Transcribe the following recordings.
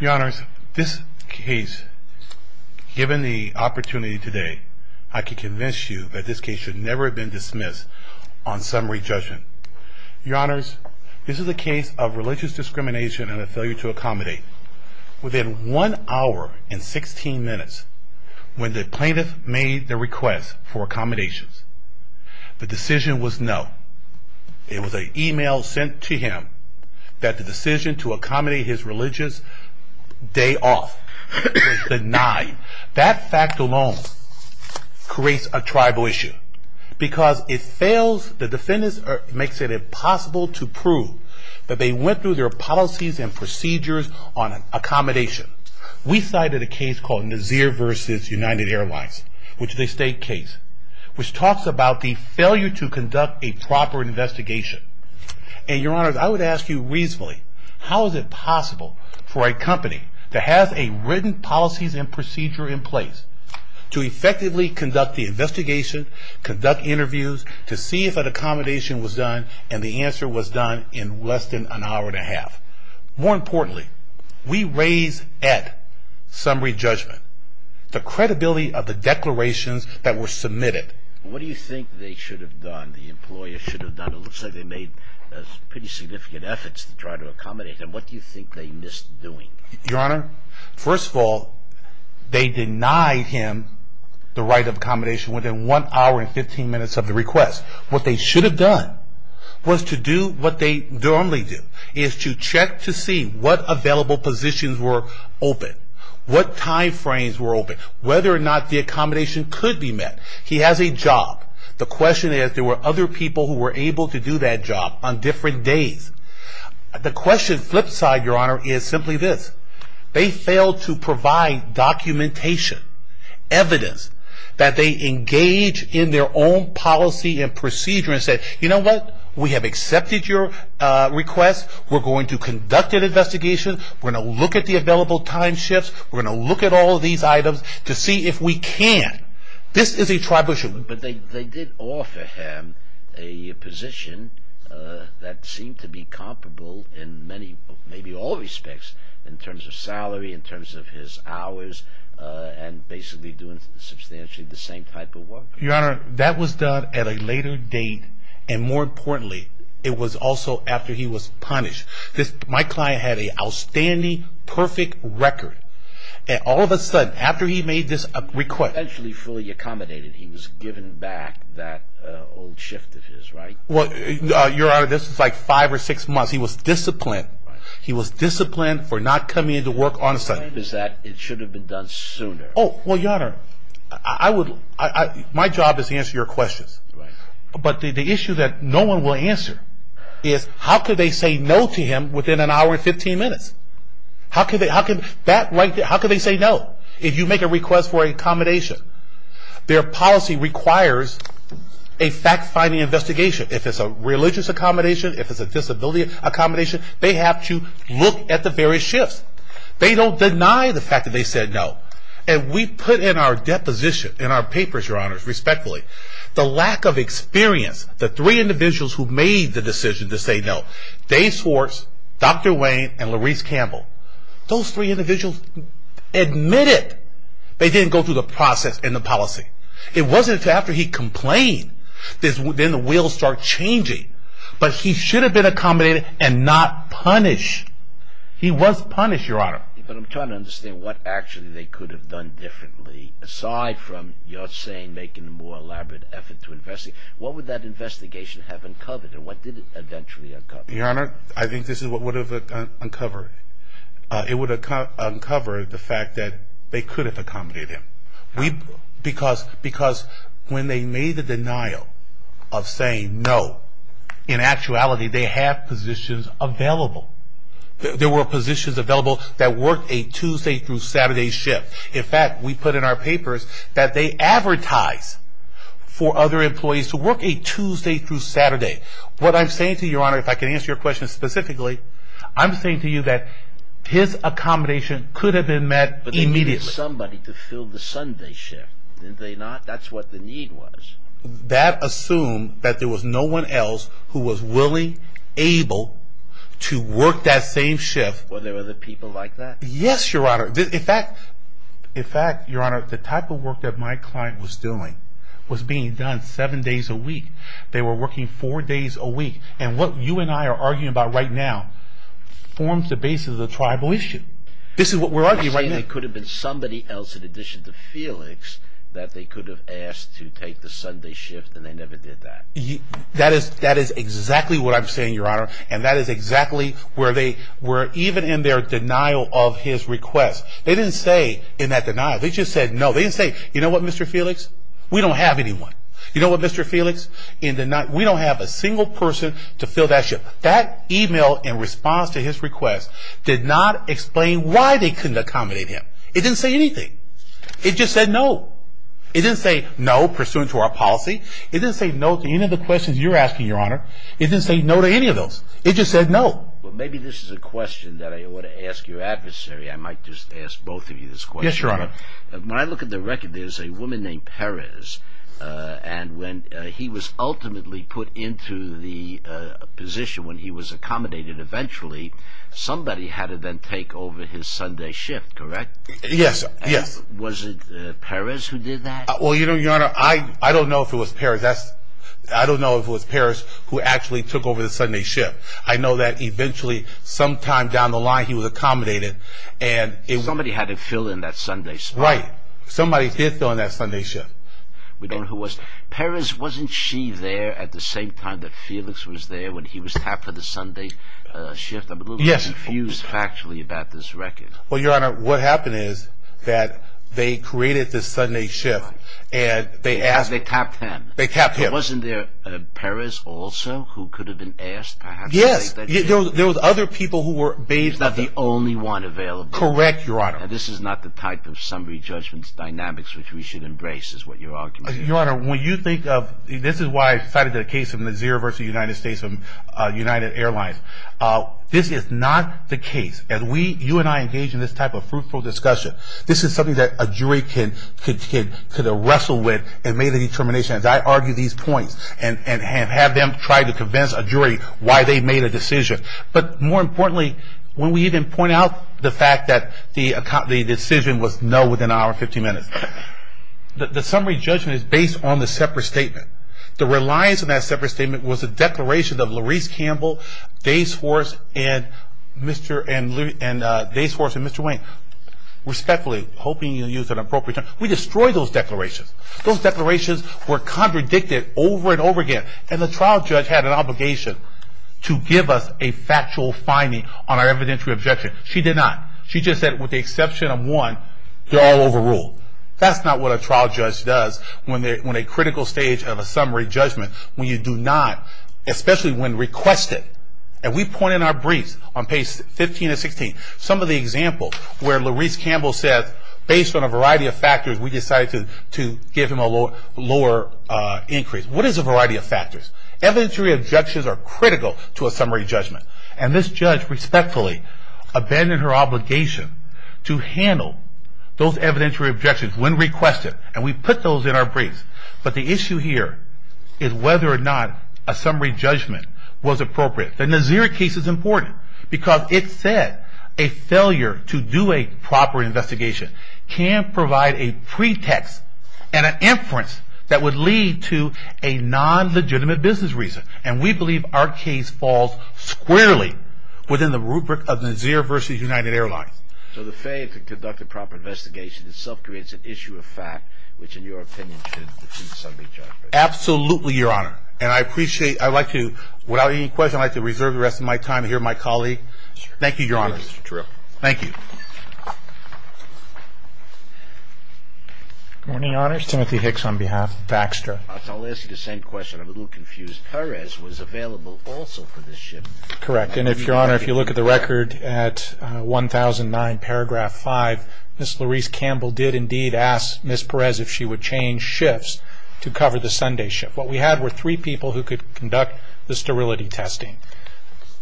Your Honors, this case, given the opportunity today, I can convince you that this case should never have been dismissed on summary judgment. Your Honors, this is a case of religious discrimination and a failure to accommodate. Within 1 hour and 16 minutes, when the plaintiff made the request for accommodations, the decision was no. It was an email sent to him that the decision to accommodate his religious day off was denied. That fact alone creates a tribal issue. Because it fails, the defendants make it impossible to prove that they went through their policies and procedures on accommodation. We cited a case called Nazir v. United Airlines, which is a state case, which talks about the failure to conduct a proper investigation. And Your Honors, I would ask you reasonably, how is it possible for a company that has a written policies and procedure in place, to effectively conduct the investigation, conduct interviews, to see if an accommodation was done, and the answer was done in less than an hour and a half. More importantly, we raise at summary judgment the credibility of the declarations that were submitted. What do you think they should have done, the employer should have done? It looks like they made pretty significant efforts to try to accommodate him. What do you think they missed doing? Your Honor, first of all, they denied him the right of accommodation within 1 hour and 15 minutes of the request. What they should have done was to do what they normally do, is to check to see what available positions were open. What time frames were open. Whether or not the accommodation could be met. He has a job. The question is, there were other people who were able to do that job on different days. The question flip side, Your Honor, is simply this. They failed to provide documentation, evidence, that they engage in their own policy and procedure and said, you know what, we have accepted your request, we're going to conduct an investigation, we're going to look at the available time shifts, we're going to look at all of these items to see if we can. This is a tribal issue. But they did offer him a position that seemed to be comparable in many, maybe all respects. In terms of salary, in terms of his hours, and basically doing substantially the same type of work. Your Honor, that was done at a later date, and more importantly, it was also after he was punished. My client had an outstanding, perfect record. And all of a sudden, after he made this request. He was eventually fully accommodated. He was given back that old shift of his, right? Well, Your Honor, this was like five or six months. He was disciplined. He was disciplined for not coming into work on a Sunday. The claim is that it should have been done sooner. Oh, well, Your Honor, my job is to answer your questions. But the issue that no one will answer is, how could they say no to him within an hour and 15 minutes? How could they say no? If you make a request for an accommodation, their policy requires a fact-finding investigation. If it's a religious accommodation, if it's a disability accommodation, they have to look at the various shifts. They don't deny the fact that they said no. And we put in our deposition, in our papers, Your Honor, respectfully, the lack of experience. The three individuals who made the decision to say no. Dave Swartz, Dr. Wayne, and Larise Campbell. Those three individuals admitted they didn't go through the process and the policy. It wasn't until after he complained, then the wheels start changing. But he should have been accommodated and not punished. He was punished, Your Honor. But I'm trying to understand what actually they could have done differently, aside from, you're saying, making a more elaborate effort to investigate. What would that investigation have uncovered, and what did it eventually uncover? Your Honor, I think this is what would have uncovered. It would have uncovered the fact that they could have accommodated him. Because when they made the denial of saying no, in actuality, they have positions available. There were positions available that worked a Tuesday through Saturday shift. In fact, we put in our papers that they advertise for other employees to work a Tuesday through Saturday. What I'm saying to you, Your Honor, if I can answer your question specifically, I'm saying to you that his accommodation could have been met immediately. But they needed somebody to fill the Sunday shift, didn't they not? That's what the need was. That assumed that there was no one else who was willing, able to work that same shift. Were there other people like that? Yes, Your Honor. In fact, Your Honor, the type of work that my client was doing was being done seven days a week. They were working four days a week. And what you and I are arguing about right now forms the basis of the tribal issue. This is what we're arguing right now. You're saying there could have been somebody else in addition to Felix that they could have asked to take the Sunday shift and they never did that? That is exactly what I'm saying, Your Honor. And that is exactly where they were even in their denial of his request. They didn't say in that denial, they just said no. They didn't say, you know what, Mr. Felix, we don't have anyone. You know what, Mr. Felix, we don't have a single person to fill that shift. That email in response to his request did not explain why they couldn't accommodate him. It didn't say anything. It just said no. It didn't say no pursuant to our policy. It didn't say no to any of the questions you're asking, Your Honor. It didn't say no to any of those. It just said no. Well, maybe this is a question that I ought to ask your adversary. I might just ask both of you this question. Yes, Your Honor. When I look at the record, there's a woman named Perez, and when he was ultimately put into the position when he was accommodated eventually, somebody had to then take over his Sunday shift, correct? Yes, yes. Was it Perez who did that? Well, you know, Your Honor, I don't know if it was Perez. I don't know if it was Perez who actually took over the Sunday shift. I know that eventually sometime down the line he was accommodated. Somebody had to fill in that Sunday spot. Right. Somebody did fill in that Sunday shift. Perez, wasn't she there at the same time that Felix was there when he was tapped for the Sunday shift? I'm a little confused factually about this record. Well, Your Honor, what happened is that they created this Sunday shift. They tapped him. They tapped him. Wasn't there Perez also who could have been asked perhaps to take that shift? Yes. There were other people who were based on that. Not the only one available. Correct, Your Honor. Now, this is not the type of summary judgment dynamics which we should embrace is what you're arguing. Your Honor, when you think of this is why I cited the case of Nazir versus the United States and United Airlines. This is not the case. As you and I engage in this type of fruitful discussion, this is something that a jury can wrestle with and make the determination. I argue these points and have them try to convince a jury why they made a decision. But more importantly, when we even point out the fact that the decision was no within an hour and 15 minutes, the summary judgment is based on the separate statement. The reliance on that separate statement was a declaration of Laurice Campbell, Dase Forrest, and Mr. Wayne, respectfully, hoping you'll use an appropriate term. We destroyed those declarations. Those declarations were contradicted over and over again, and the trial judge had an obligation to give us a factual finding on our evidentiary objection. She did not. She just said with the exception of one, they're all overruled. That's not what a trial judge does when a critical stage of a summary judgment, when you do not, especially when requested. And we point in our briefs on pages 15 and 16, some of the examples where Laurice Campbell says, based on a variety of factors, we decided to give him a lower increase. What is a variety of factors? Evidentiary objections are critical to a summary judgment. And this judge respectfully abandoned her obligation to handle those evidentiary objections when requested. And we put those in our briefs. But the issue here is whether or not a summary judgment was appropriate. The Nazir case is important because it said a failure to do a proper investigation can provide a pretext and an inference that would lead to a non-legitimate business reason. And we believe our case falls squarely within the rubric of Nazir v. United Airlines. So the failure to conduct a proper investigation itself creates an issue of fact, which in your opinion should be a summary judgment. Absolutely, Your Honor. And I appreciate. I'd like to, without any question, I'd like to reserve the rest of my time to hear my colleague. Thank you, Your Honor. Thank you, Mr. Tripp. Thank you. Good morning, Your Honor. It's Timothy Hicks on behalf of Baxter. I'll ask you the same question. I'm a little confused. Perez was available also for this shift. Correct. And, Your Honor, if you look at the record at 1009, paragraph 5, Ms. Laurice Campbell did indeed ask Ms. Perez if she would change shifts to cover the Sunday shift. What we had were three people who could conduct the sterility testing.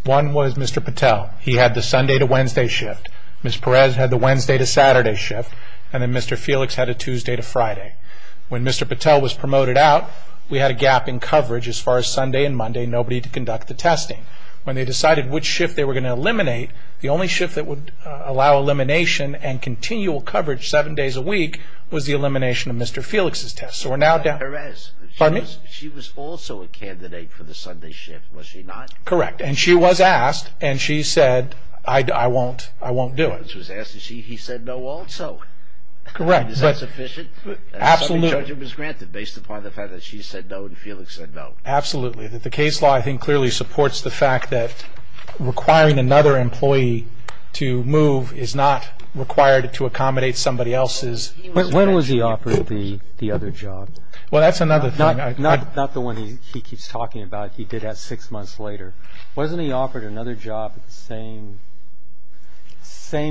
One was Mr. Patel. He had the Sunday to Wednesday shift. Ms. Perez had the Wednesday to Saturday shift. And then Mr. Felix had a Tuesday to Friday. When Mr. Patel was promoted out, we had a gap in coverage as far as Sunday and Monday, nobody to conduct the testing. When they decided which shift they were going to eliminate, the only shift that would allow elimination and continual coverage seven days a week was the elimination of Mr. Felix's test. Ms. Perez, she was also a candidate for the Sunday shift, was she not? Correct. And she was asked, and she said, I won't do it. She was asked, and he said no also. Correct. Is that sufficient? Absolutely. The judgment was granted based upon the fact that she said no and Felix said no. Absolutely. The case law, I think, clearly supports the fact that requiring another employee to move is not required to accommodate somebody else's. When was he offered the other job? Well, that's another thing. Not the one he keeps talking about. He did that six months later. Wasn't he offered another job at the same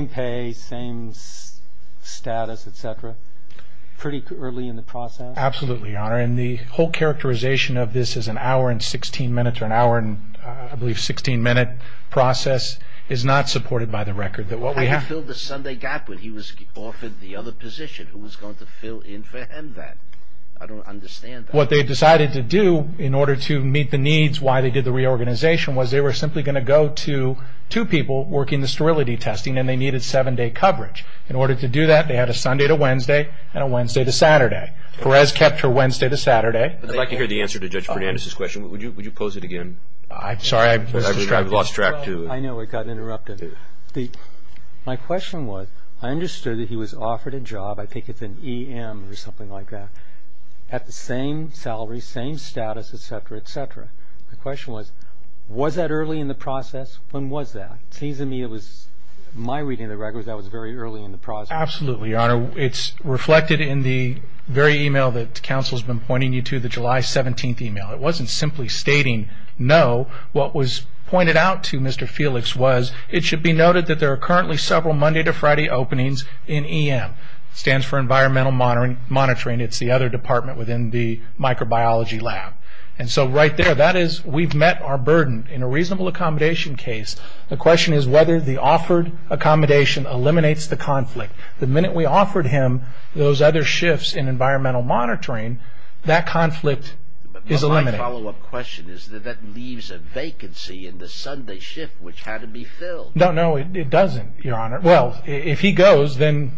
pay, same status, et cetera, pretty early in the process? Absolutely, Your Honor. And the whole characterization of this as an hour and 16 minutes or an hour and I believe 16-minute process is not supported by the record. He filled the Sunday gap when he was offered the other position. Who was going to fill in for him then? I don't understand that. What they decided to do in order to meet the needs, why they did the reorganization, was they were simply going to go to two people working the sterility testing and they needed seven-day coverage. In order to do that, they had a Sunday to Wednesday and a Wednesday to Saturday. Perez kept her Wednesday to Saturday. I'd like to hear the answer to Judge Fernandez's question. Would you pose it again? Sorry, I lost track. I know it got interrupted. My question was, I understood that he was offered a job, I think it's an EM or something like that, at the same salary, same status, et cetera, et cetera. My question was, was that early in the process? When was that? It seems to me it was, my reading of the record, that was very early in the process. Absolutely, Your Honor. It's reflected in the very email that counsel has been pointing you to, the July 17th email. It wasn't simply stating no. What was pointed out to Mr. Felix was, it should be noted that there are currently several Monday to Friday openings in EM. It stands for environmental monitoring. It's the other department within the microbiology lab. Right there, that is, we've met our burden in a reasonable accommodation case. The question is whether the offered accommodation eliminates the conflict. The minute we offered him those other shifts in environmental monitoring, that conflict is eliminated. My follow-up question is that that leaves a vacancy in the Sunday shift, which had to be filled. No, no, it doesn't, Your Honor. Well, if he goes, then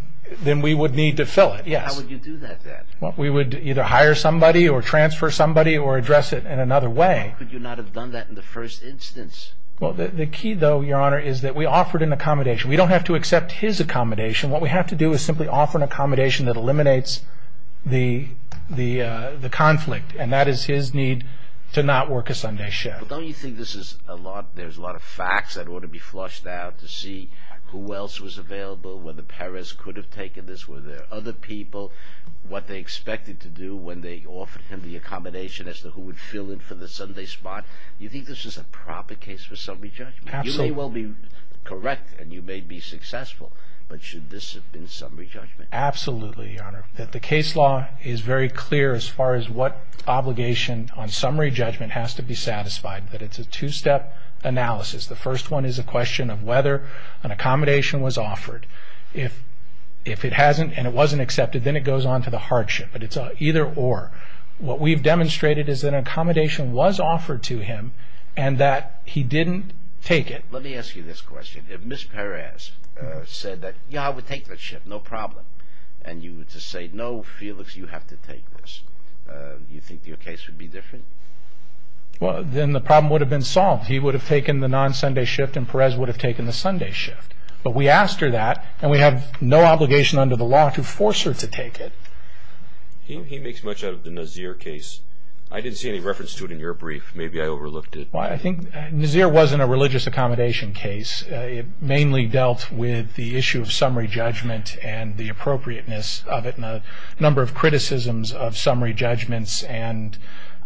we would need to fill it, yes. How would you do that, then? We would either hire somebody or transfer somebody or address it in another way. Why could you not have done that in the first instance? Well, the key, though, Your Honor, is that we offered an accommodation. We don't have to accept his accommodation. What we have to do is simply offer an accommodation that eliminates the conflict, and that is his need to not work a Sunday shift. Don't you think there's a lot of facts that ought to be flushed out to see who else was available, whether Perez could have taken this, were there other people, what they expected to do when they offered him the accommodation as to who would fill in for the Sunday spot? Do you think this is a proper case for Sunday judgment? Absolutely. You may well be correct and you may be successful, but should this have been Sunday judgment? Absolutely, Your Honor. The case law is very clear as far as what obligation on Sunday judgment has to be satisfied, that it's a two-step analysis. The first one is a question of whether an accommodation was offered. If it hasn't and it wasn't accepted, then it goes on to the hardship, but it's either or. What we've demonstrated is that an accommodation was offered to him and that he didn't take it. Let me ask you this question. If Ms. Perez said that, yeah, I would take that shift, no problem, and you were to say, no, Felix, you have to take this, do you think your case would be different? Well, then the problem would have been solved. He would have taken the non-Sunday shift and Perez would have taken the Sunday shift. But we asked her that and we have no obligation under the law to force her to take it. He makes much out of the Nazir case. I didn't see any reference to it in your brief. Maybe I overlooked it. Well, I think Nazir wasn't a religious accommodation case. It mainly dealt with the issue of summary judgment and the appropriateness of it and a number of criticisms of summary judgments. And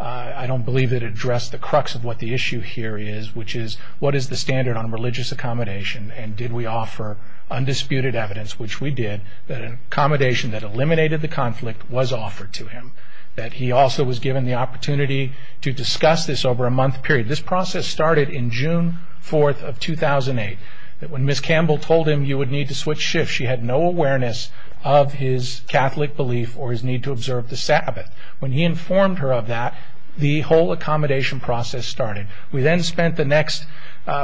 I don't believe it addressed the crux of what the issue here is, which is what is the standard on religious accommodation and did we offer undisputed evidence, which we did, that an accommodation that eliminated the conflict was offered to him, that he also was given the opportunity to discuss this over a month period. This process started in June 4th of 2008. When Ms. Campbell told him you would need to switch shifts, she had no awareness of his Catholic belief or his need to observe the Sabbath. When he informed her of that, the whole accommodation process started. We then spent the next,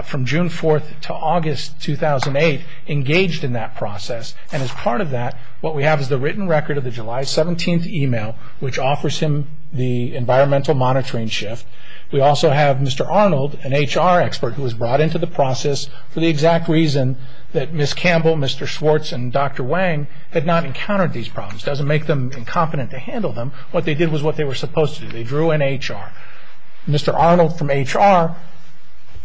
from June 4th to August 2008, engaged in that process. And as part of that, what we have is the written record of the July 17th email, which offers him the environmental monitoring shift. We also have Mr. Arnold, an HR expert, who was brought into the process for the exact reason that Ms. Campbell, Mr. Schwartz, and Dr. Wang had not encountered these problems. It doesn't make them incompetent to handle them. What they did was what they were supposed to do. They drew an HR. Mr. Arnold from HR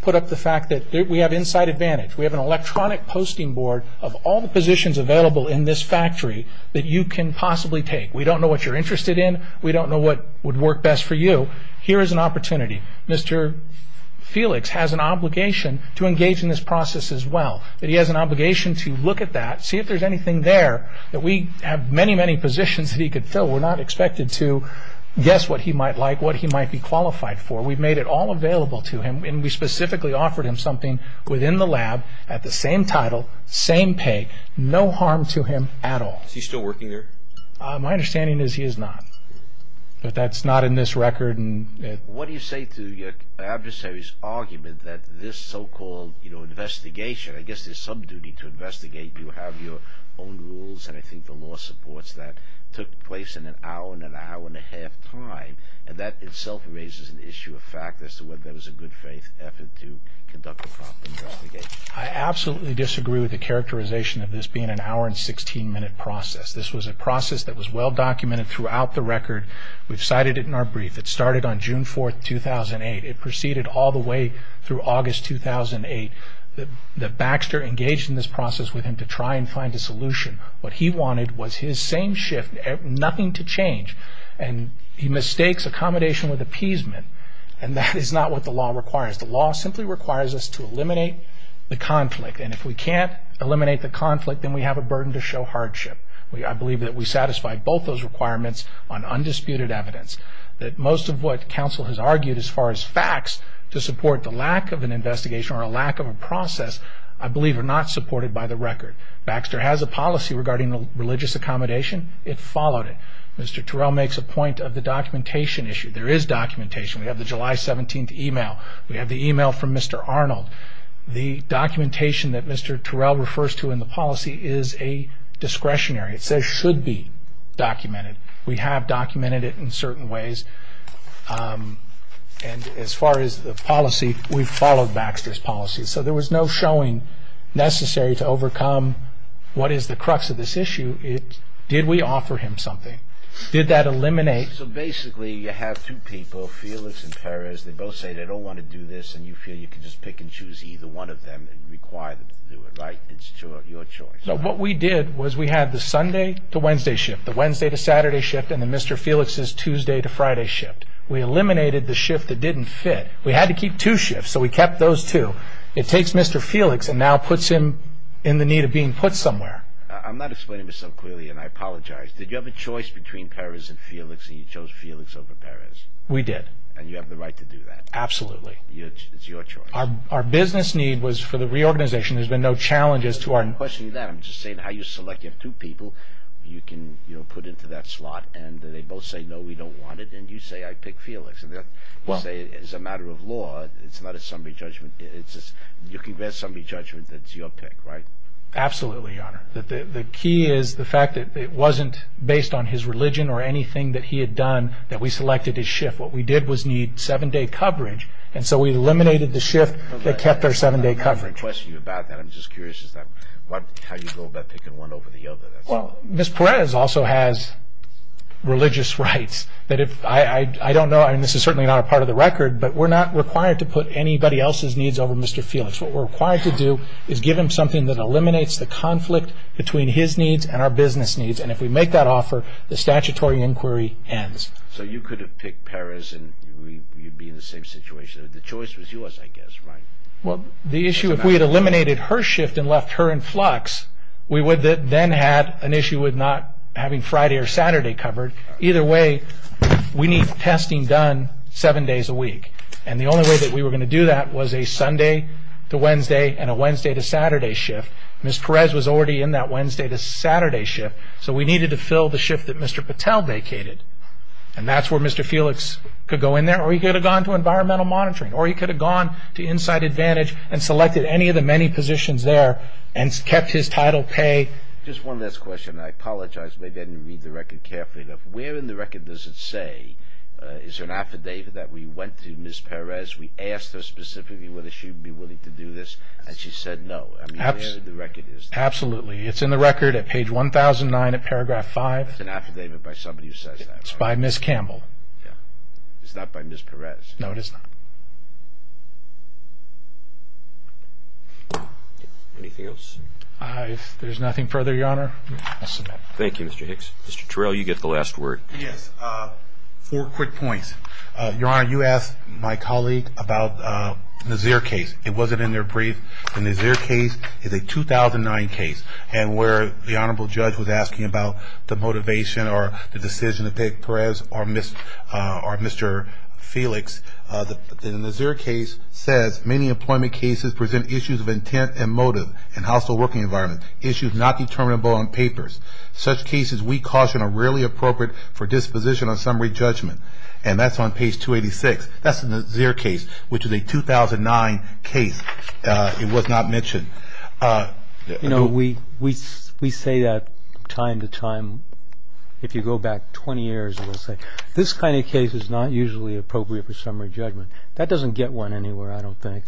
put up the fact that we have inside advantage. We have an electronic posting board of all the positions available in this factory that you can possibly take. We don't know what you're interested in. We don't know what would work best for you. Here is an opportunity. Mr. Felix has an obligation to engage in this process as well. He has an obligation to look at that, see if there's anything there that we have many, many positions that he could fill. We're not expected to guess what he might like, what he might be qualified for. We've made it all available to him, and we specifically offered him something within the lab at the same title, same pay, no harm to him at all. Is he still working there? My understanding is he is not. But that's not in this record. What do you say to your adversary's argument that this so-called investigation, I guess there's some duty to investigate. You have your own rules, and I think the law supports that, took place in an hour and an hour and a half time, and that itself raises an issue of fact as to whether that was a good faith effort to conduct a proper investigation. I absolutely disagree with the characterization of this being an hour and 16-minute process. This was a process that was well-documented throughout the record. We've cited it in our brief. It started on June 4, 2008. It proceeded all the way through August 2008. The Baxter engaged in this process with him to try and find a solution. What he wanted was his same shift, nothing to change, and he mistakes accommodation with appeasement, and that is not what the law requires. The law simply requires us to eliminate the conflict, and if we can't eliminate the conflict, then we have a burden to show hardship. I believe that we satisfy both those requirements on undisputed evidence. Most of what counsel has argued as far as facts to support the lack of an investigation or a lack of a process I believe are not supported by the record. Baxter has a policy regarding religious accommodation. It followed it. Mr. Terrell makes a point of the documentation issue. There is documentation. We have the July 17th email. We have the email from Mr. Arnold. The documentation that Mr. Terrell refers to in the policy is a discretionary. It says it should be documented. We have documented it in certain ways, and as far as the policy, we followed Baxter's policy. So there was no showing necessary to overcome what is the crux of this issue. Did we offer him something? Did that eliminate... So basically you have two people, Felix and Perez. They both say they don't want to do this, and you feel you can just pick and choose either one of them and require them to do it, right? It's your choice. No, what we did was we had the Sunday to Wednesday shift, the Wednesday to Saturday shift, and the Mr. Felix's Tuesday to Friday shift. We eliminated the shift that didn't fit. We had to keep two shifts, so we kept those two. It takes Mr. Felix and now puts him in the need of being put somewhere. I'm not explaining myself clearly, and I apologize. Did you have a choice between Perez and Felix, and you chose Felix over Perez? We did. And you have the right to do that? Absolutely. It's your choice. Our business need was for the reorganization. There's been no challenges to our... I'm not questioning that. I'm just saying how you selected two people you can put into that slot, and they both say, no, we don't want it, and you say, I pick Felix. You say it's a matter of law. It's not a summary judgment. You can get a summary judgment that's your pick, right? Absolutely, Your Honor. The key is the fact that it wasn't based on his religion or anything that he had done that we selected his shift. What we did was need seven-day coverage, and so we eliminated the shift that kept our seven-day coverage. I'm not questioning you about that. I'm just curious as to how you go about picking one over the other. Ms. Perez also has religious rights. I don't know. This is certainly not a part of the record, but we're not required to put anybody else's needs over Mr. Felix. What we're required to do is give him something that eliminates the conflict between his needs and our business needs, and if we make that offer, the statutory inquiry ends. So you could have picked Perez and you'd be in the same situation. The choice was yours, I guess, right? Well, the issue, if we had eliminated her shift and left her in flux, we would then have an issue with not having Friday or Saturday covered. Either way, we need testing done seven days a week, and the only way that we were going to do that was a Sunday to Wednesday and a Wednesday to Saturday shift. Ms. Perez was already in that Wednesday to Saturday shift, so we needed to fill the shift that Mr. Patel vacated, and that's where Mr. Felix could go in there, or he could have gone to environmental monitoring, or he could have gone to inside advantage and selected any of the many positions there and kept his title pay. Just one last question. I apologize if I didn't read the record carefully enough. Where in the record does it say is there an affidavit that we went to Ms. Perez, we asked her specifically whether she would be willing to do this, and she said no. I mean, where in the record is that? Absolutely. It's in the record at page 1009 of paragraph 5. That's an affidavit by somebody who says that. It's by Ms. Campbell. Yeah. It's not by Ms. Perez. No, it is not. Anything else? If there's nothing further, Your Honor, I'll submit. Thank you, Mr. Hicks. Mr. Terrell, you get the last word. Yes. Four quick points. Your Honor, you asked my colleague about the Nazir case. It wasn't in their brief. The Nazir case is a 2009 case, and where the Honorable Judge was asking about the motivation or the decision of Peg Perez or Mr. Felix, the Nazir case says, many employment cases present issues of intent and motive in a hostile working environment, issues not determinable on papers. Such cases, we caution, are rarely appropriate for disposition on summary judgment. And that's on page 286. That's the Nazir case, which is a 2009 case. It was not mentioned. You know, we say that time to time. If you go back 20 years, we'll say, this kind of case is not usually appropriate for summary judgment. That doesn't get one anywhere, I don't think.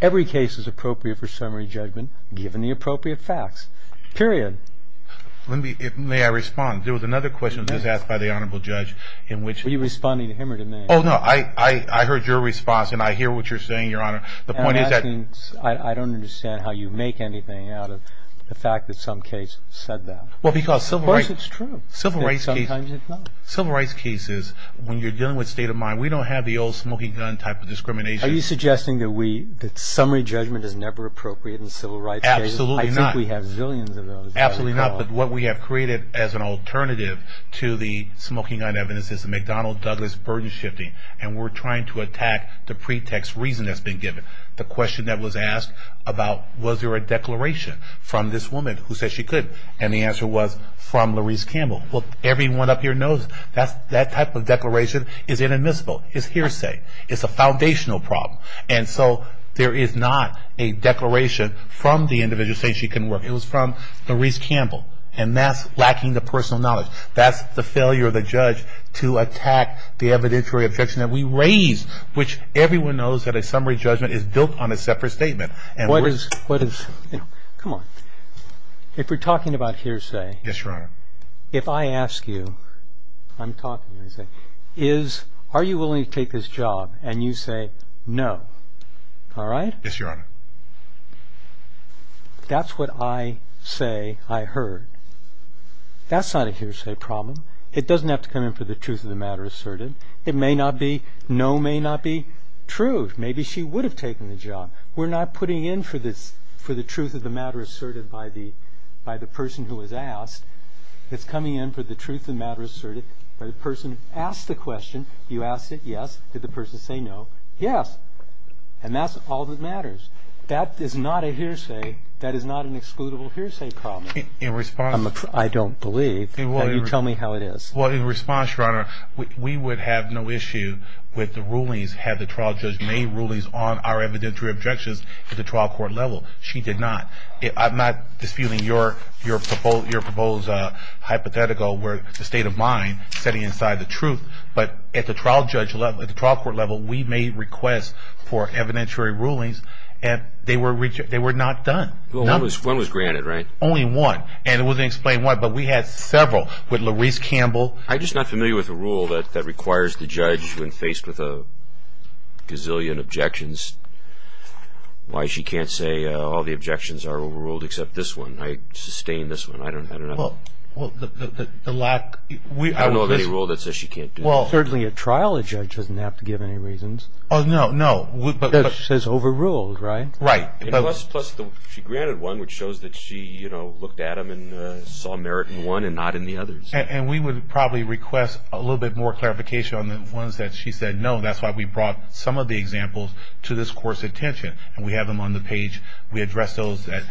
Every case is appropriate for summary judgment, given the appropriate facts, period. Let me, may I respond? There was another question that was asked by the Honorable Judge in which Were you responding to him or to me? Oh, no, I heard your response, and I hear what you're saying, Your Honor. The point is that I don't understand how you make anything out of the fact that some case said that. Well, because Of course it's true. Civil rights cases Sometimes it's not. Civil rights cases, when you're dealing with state of mind, we don't have the old smoking gun type of discrimination. Are you suggesting that summary judgment is never appropriate in civil rights cases? Absolutely not. I think we have zillions of those. Absolutely not. But what we have created as an alternative to the smoking gun evidence is the McDonnell-Douglas burden shifting. And we're trying to attack the pretext reason that's been given. The question that was asked about Was there a declaration from this woman who said she couldn't? And the answer was, from Larise Campbell. Everyone up here knows that type of declaration is inadmissible. It's hearsay. It's a foundational problem. And so there is not a declaration from the individual saying she couldn't work. It was from Larise Campbell. And that's lacking the personal knowledge. That's the failure of the judge to attack the evidentiary objection that we raise, which everyone knows that a summary judgment is built on a separate statement. What is, you know, come on. If we're talking about hearsay. Yes, Your Honor. If I ask you, I'm talking, I say, Are you willing to take this job? And you say, No. All right? Yes, Your Honor. That's what I say I heard. That's not a hearsay problem. It doesn't have to come in for the truth of the matter asserted. It may not be. No may not be true. Maybe she would have taken the job. We're not putting in for the truth of the matter asserted by the person who was asked. It's coming in for the truth of the matter asserted by the person who asked the question. You asked it. Yes. Did the person say no? Yes. And that's all that matters. That is not a hearsay. That is not an excludable hearsay problem. In response. I don't believe. You tell me how it is. Well, in response, Your Honor, we would have no issue with the rulings, had the trial judge made rulings on our evidentiary objections at the trial court level. She did not. I'm not disputing your proposed hypothetical where the state of mind sitting inside the truth. But at the trial court level, we made requests for evidentiary rulings, and they were not done. Well, one was granted, right? Only one. And it wasn't explained why, but we had several with Louise Campbell. I'm just not familiar with a rule that requires the judge, when faced with a gazillion objections, why she can't say all the objections are overruled except this one. I sustain this one. I don't know. Well, the lack. I don't know of any rule that says she can't do that. Well, certainly at trial, a judge doesn't have to give any reasons. Oh, no, no. It says overruled, right? Right. Plus, she granted one, which shows that she looked at them and saw merit in one and not in the others. And we would probably request a little bit more clarification on the ones that she said no. That's why we brought some of the examples to this court's attention. And we have them on the page. We address those that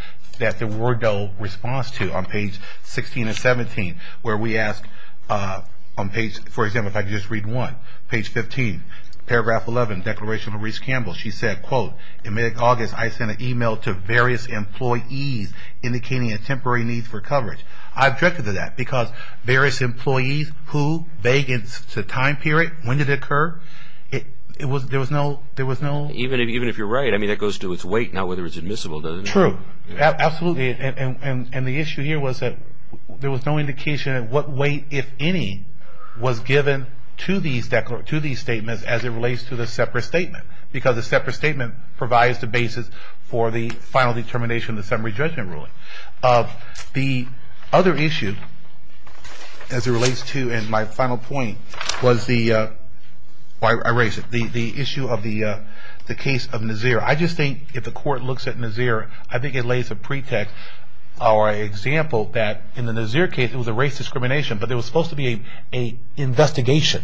there were no response to on page 16 and 17, where we ask on page, for example, if I could just read one, page 15, paragraph 11, Declaration of Louise Campbell. She said, quote, in mid-August, I sent an email to various employees indicating a temporary need for coverage. I objected to that because various employees who, vague in the time period, when did it occur? There was no. Even if you're right, I mean, that goes to its weight, not whether it's admissible, doesn't it? True. Absolutely. And the issue here was that there was no indication of what weight, if any, was given to these statements as it relates to the separate statement. Because the separate statement provides the basis for the final determination of the summary judgment ruling. The other issue, as it relates to, and my final point, was the issue of the case of Nazir. I just think if the court looks at Nazir, I think it lays a pretext or an example that in the Nazir case, it was a race discrimination, but there was supposed to be an investigation.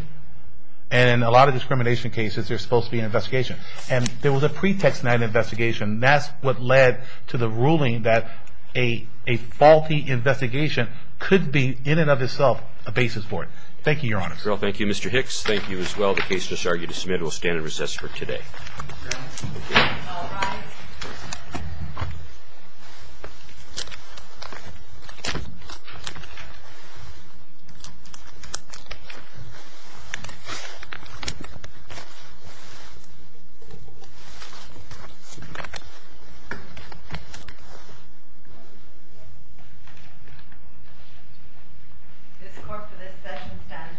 And in a lot of discrimination cases, there's supposed to be an investigation. And there was a pretext in that investigation, and that's what led to the ruling that a faulty investigation could be, in and of itself, a basis for it. Thank you, Your Honor. Thank you, Mr. Hicks. Thank you as well. The case is argued and submitted. We'll stand in recess for today. All rise. This court for this session stands adjourned. Thank you. Thank you.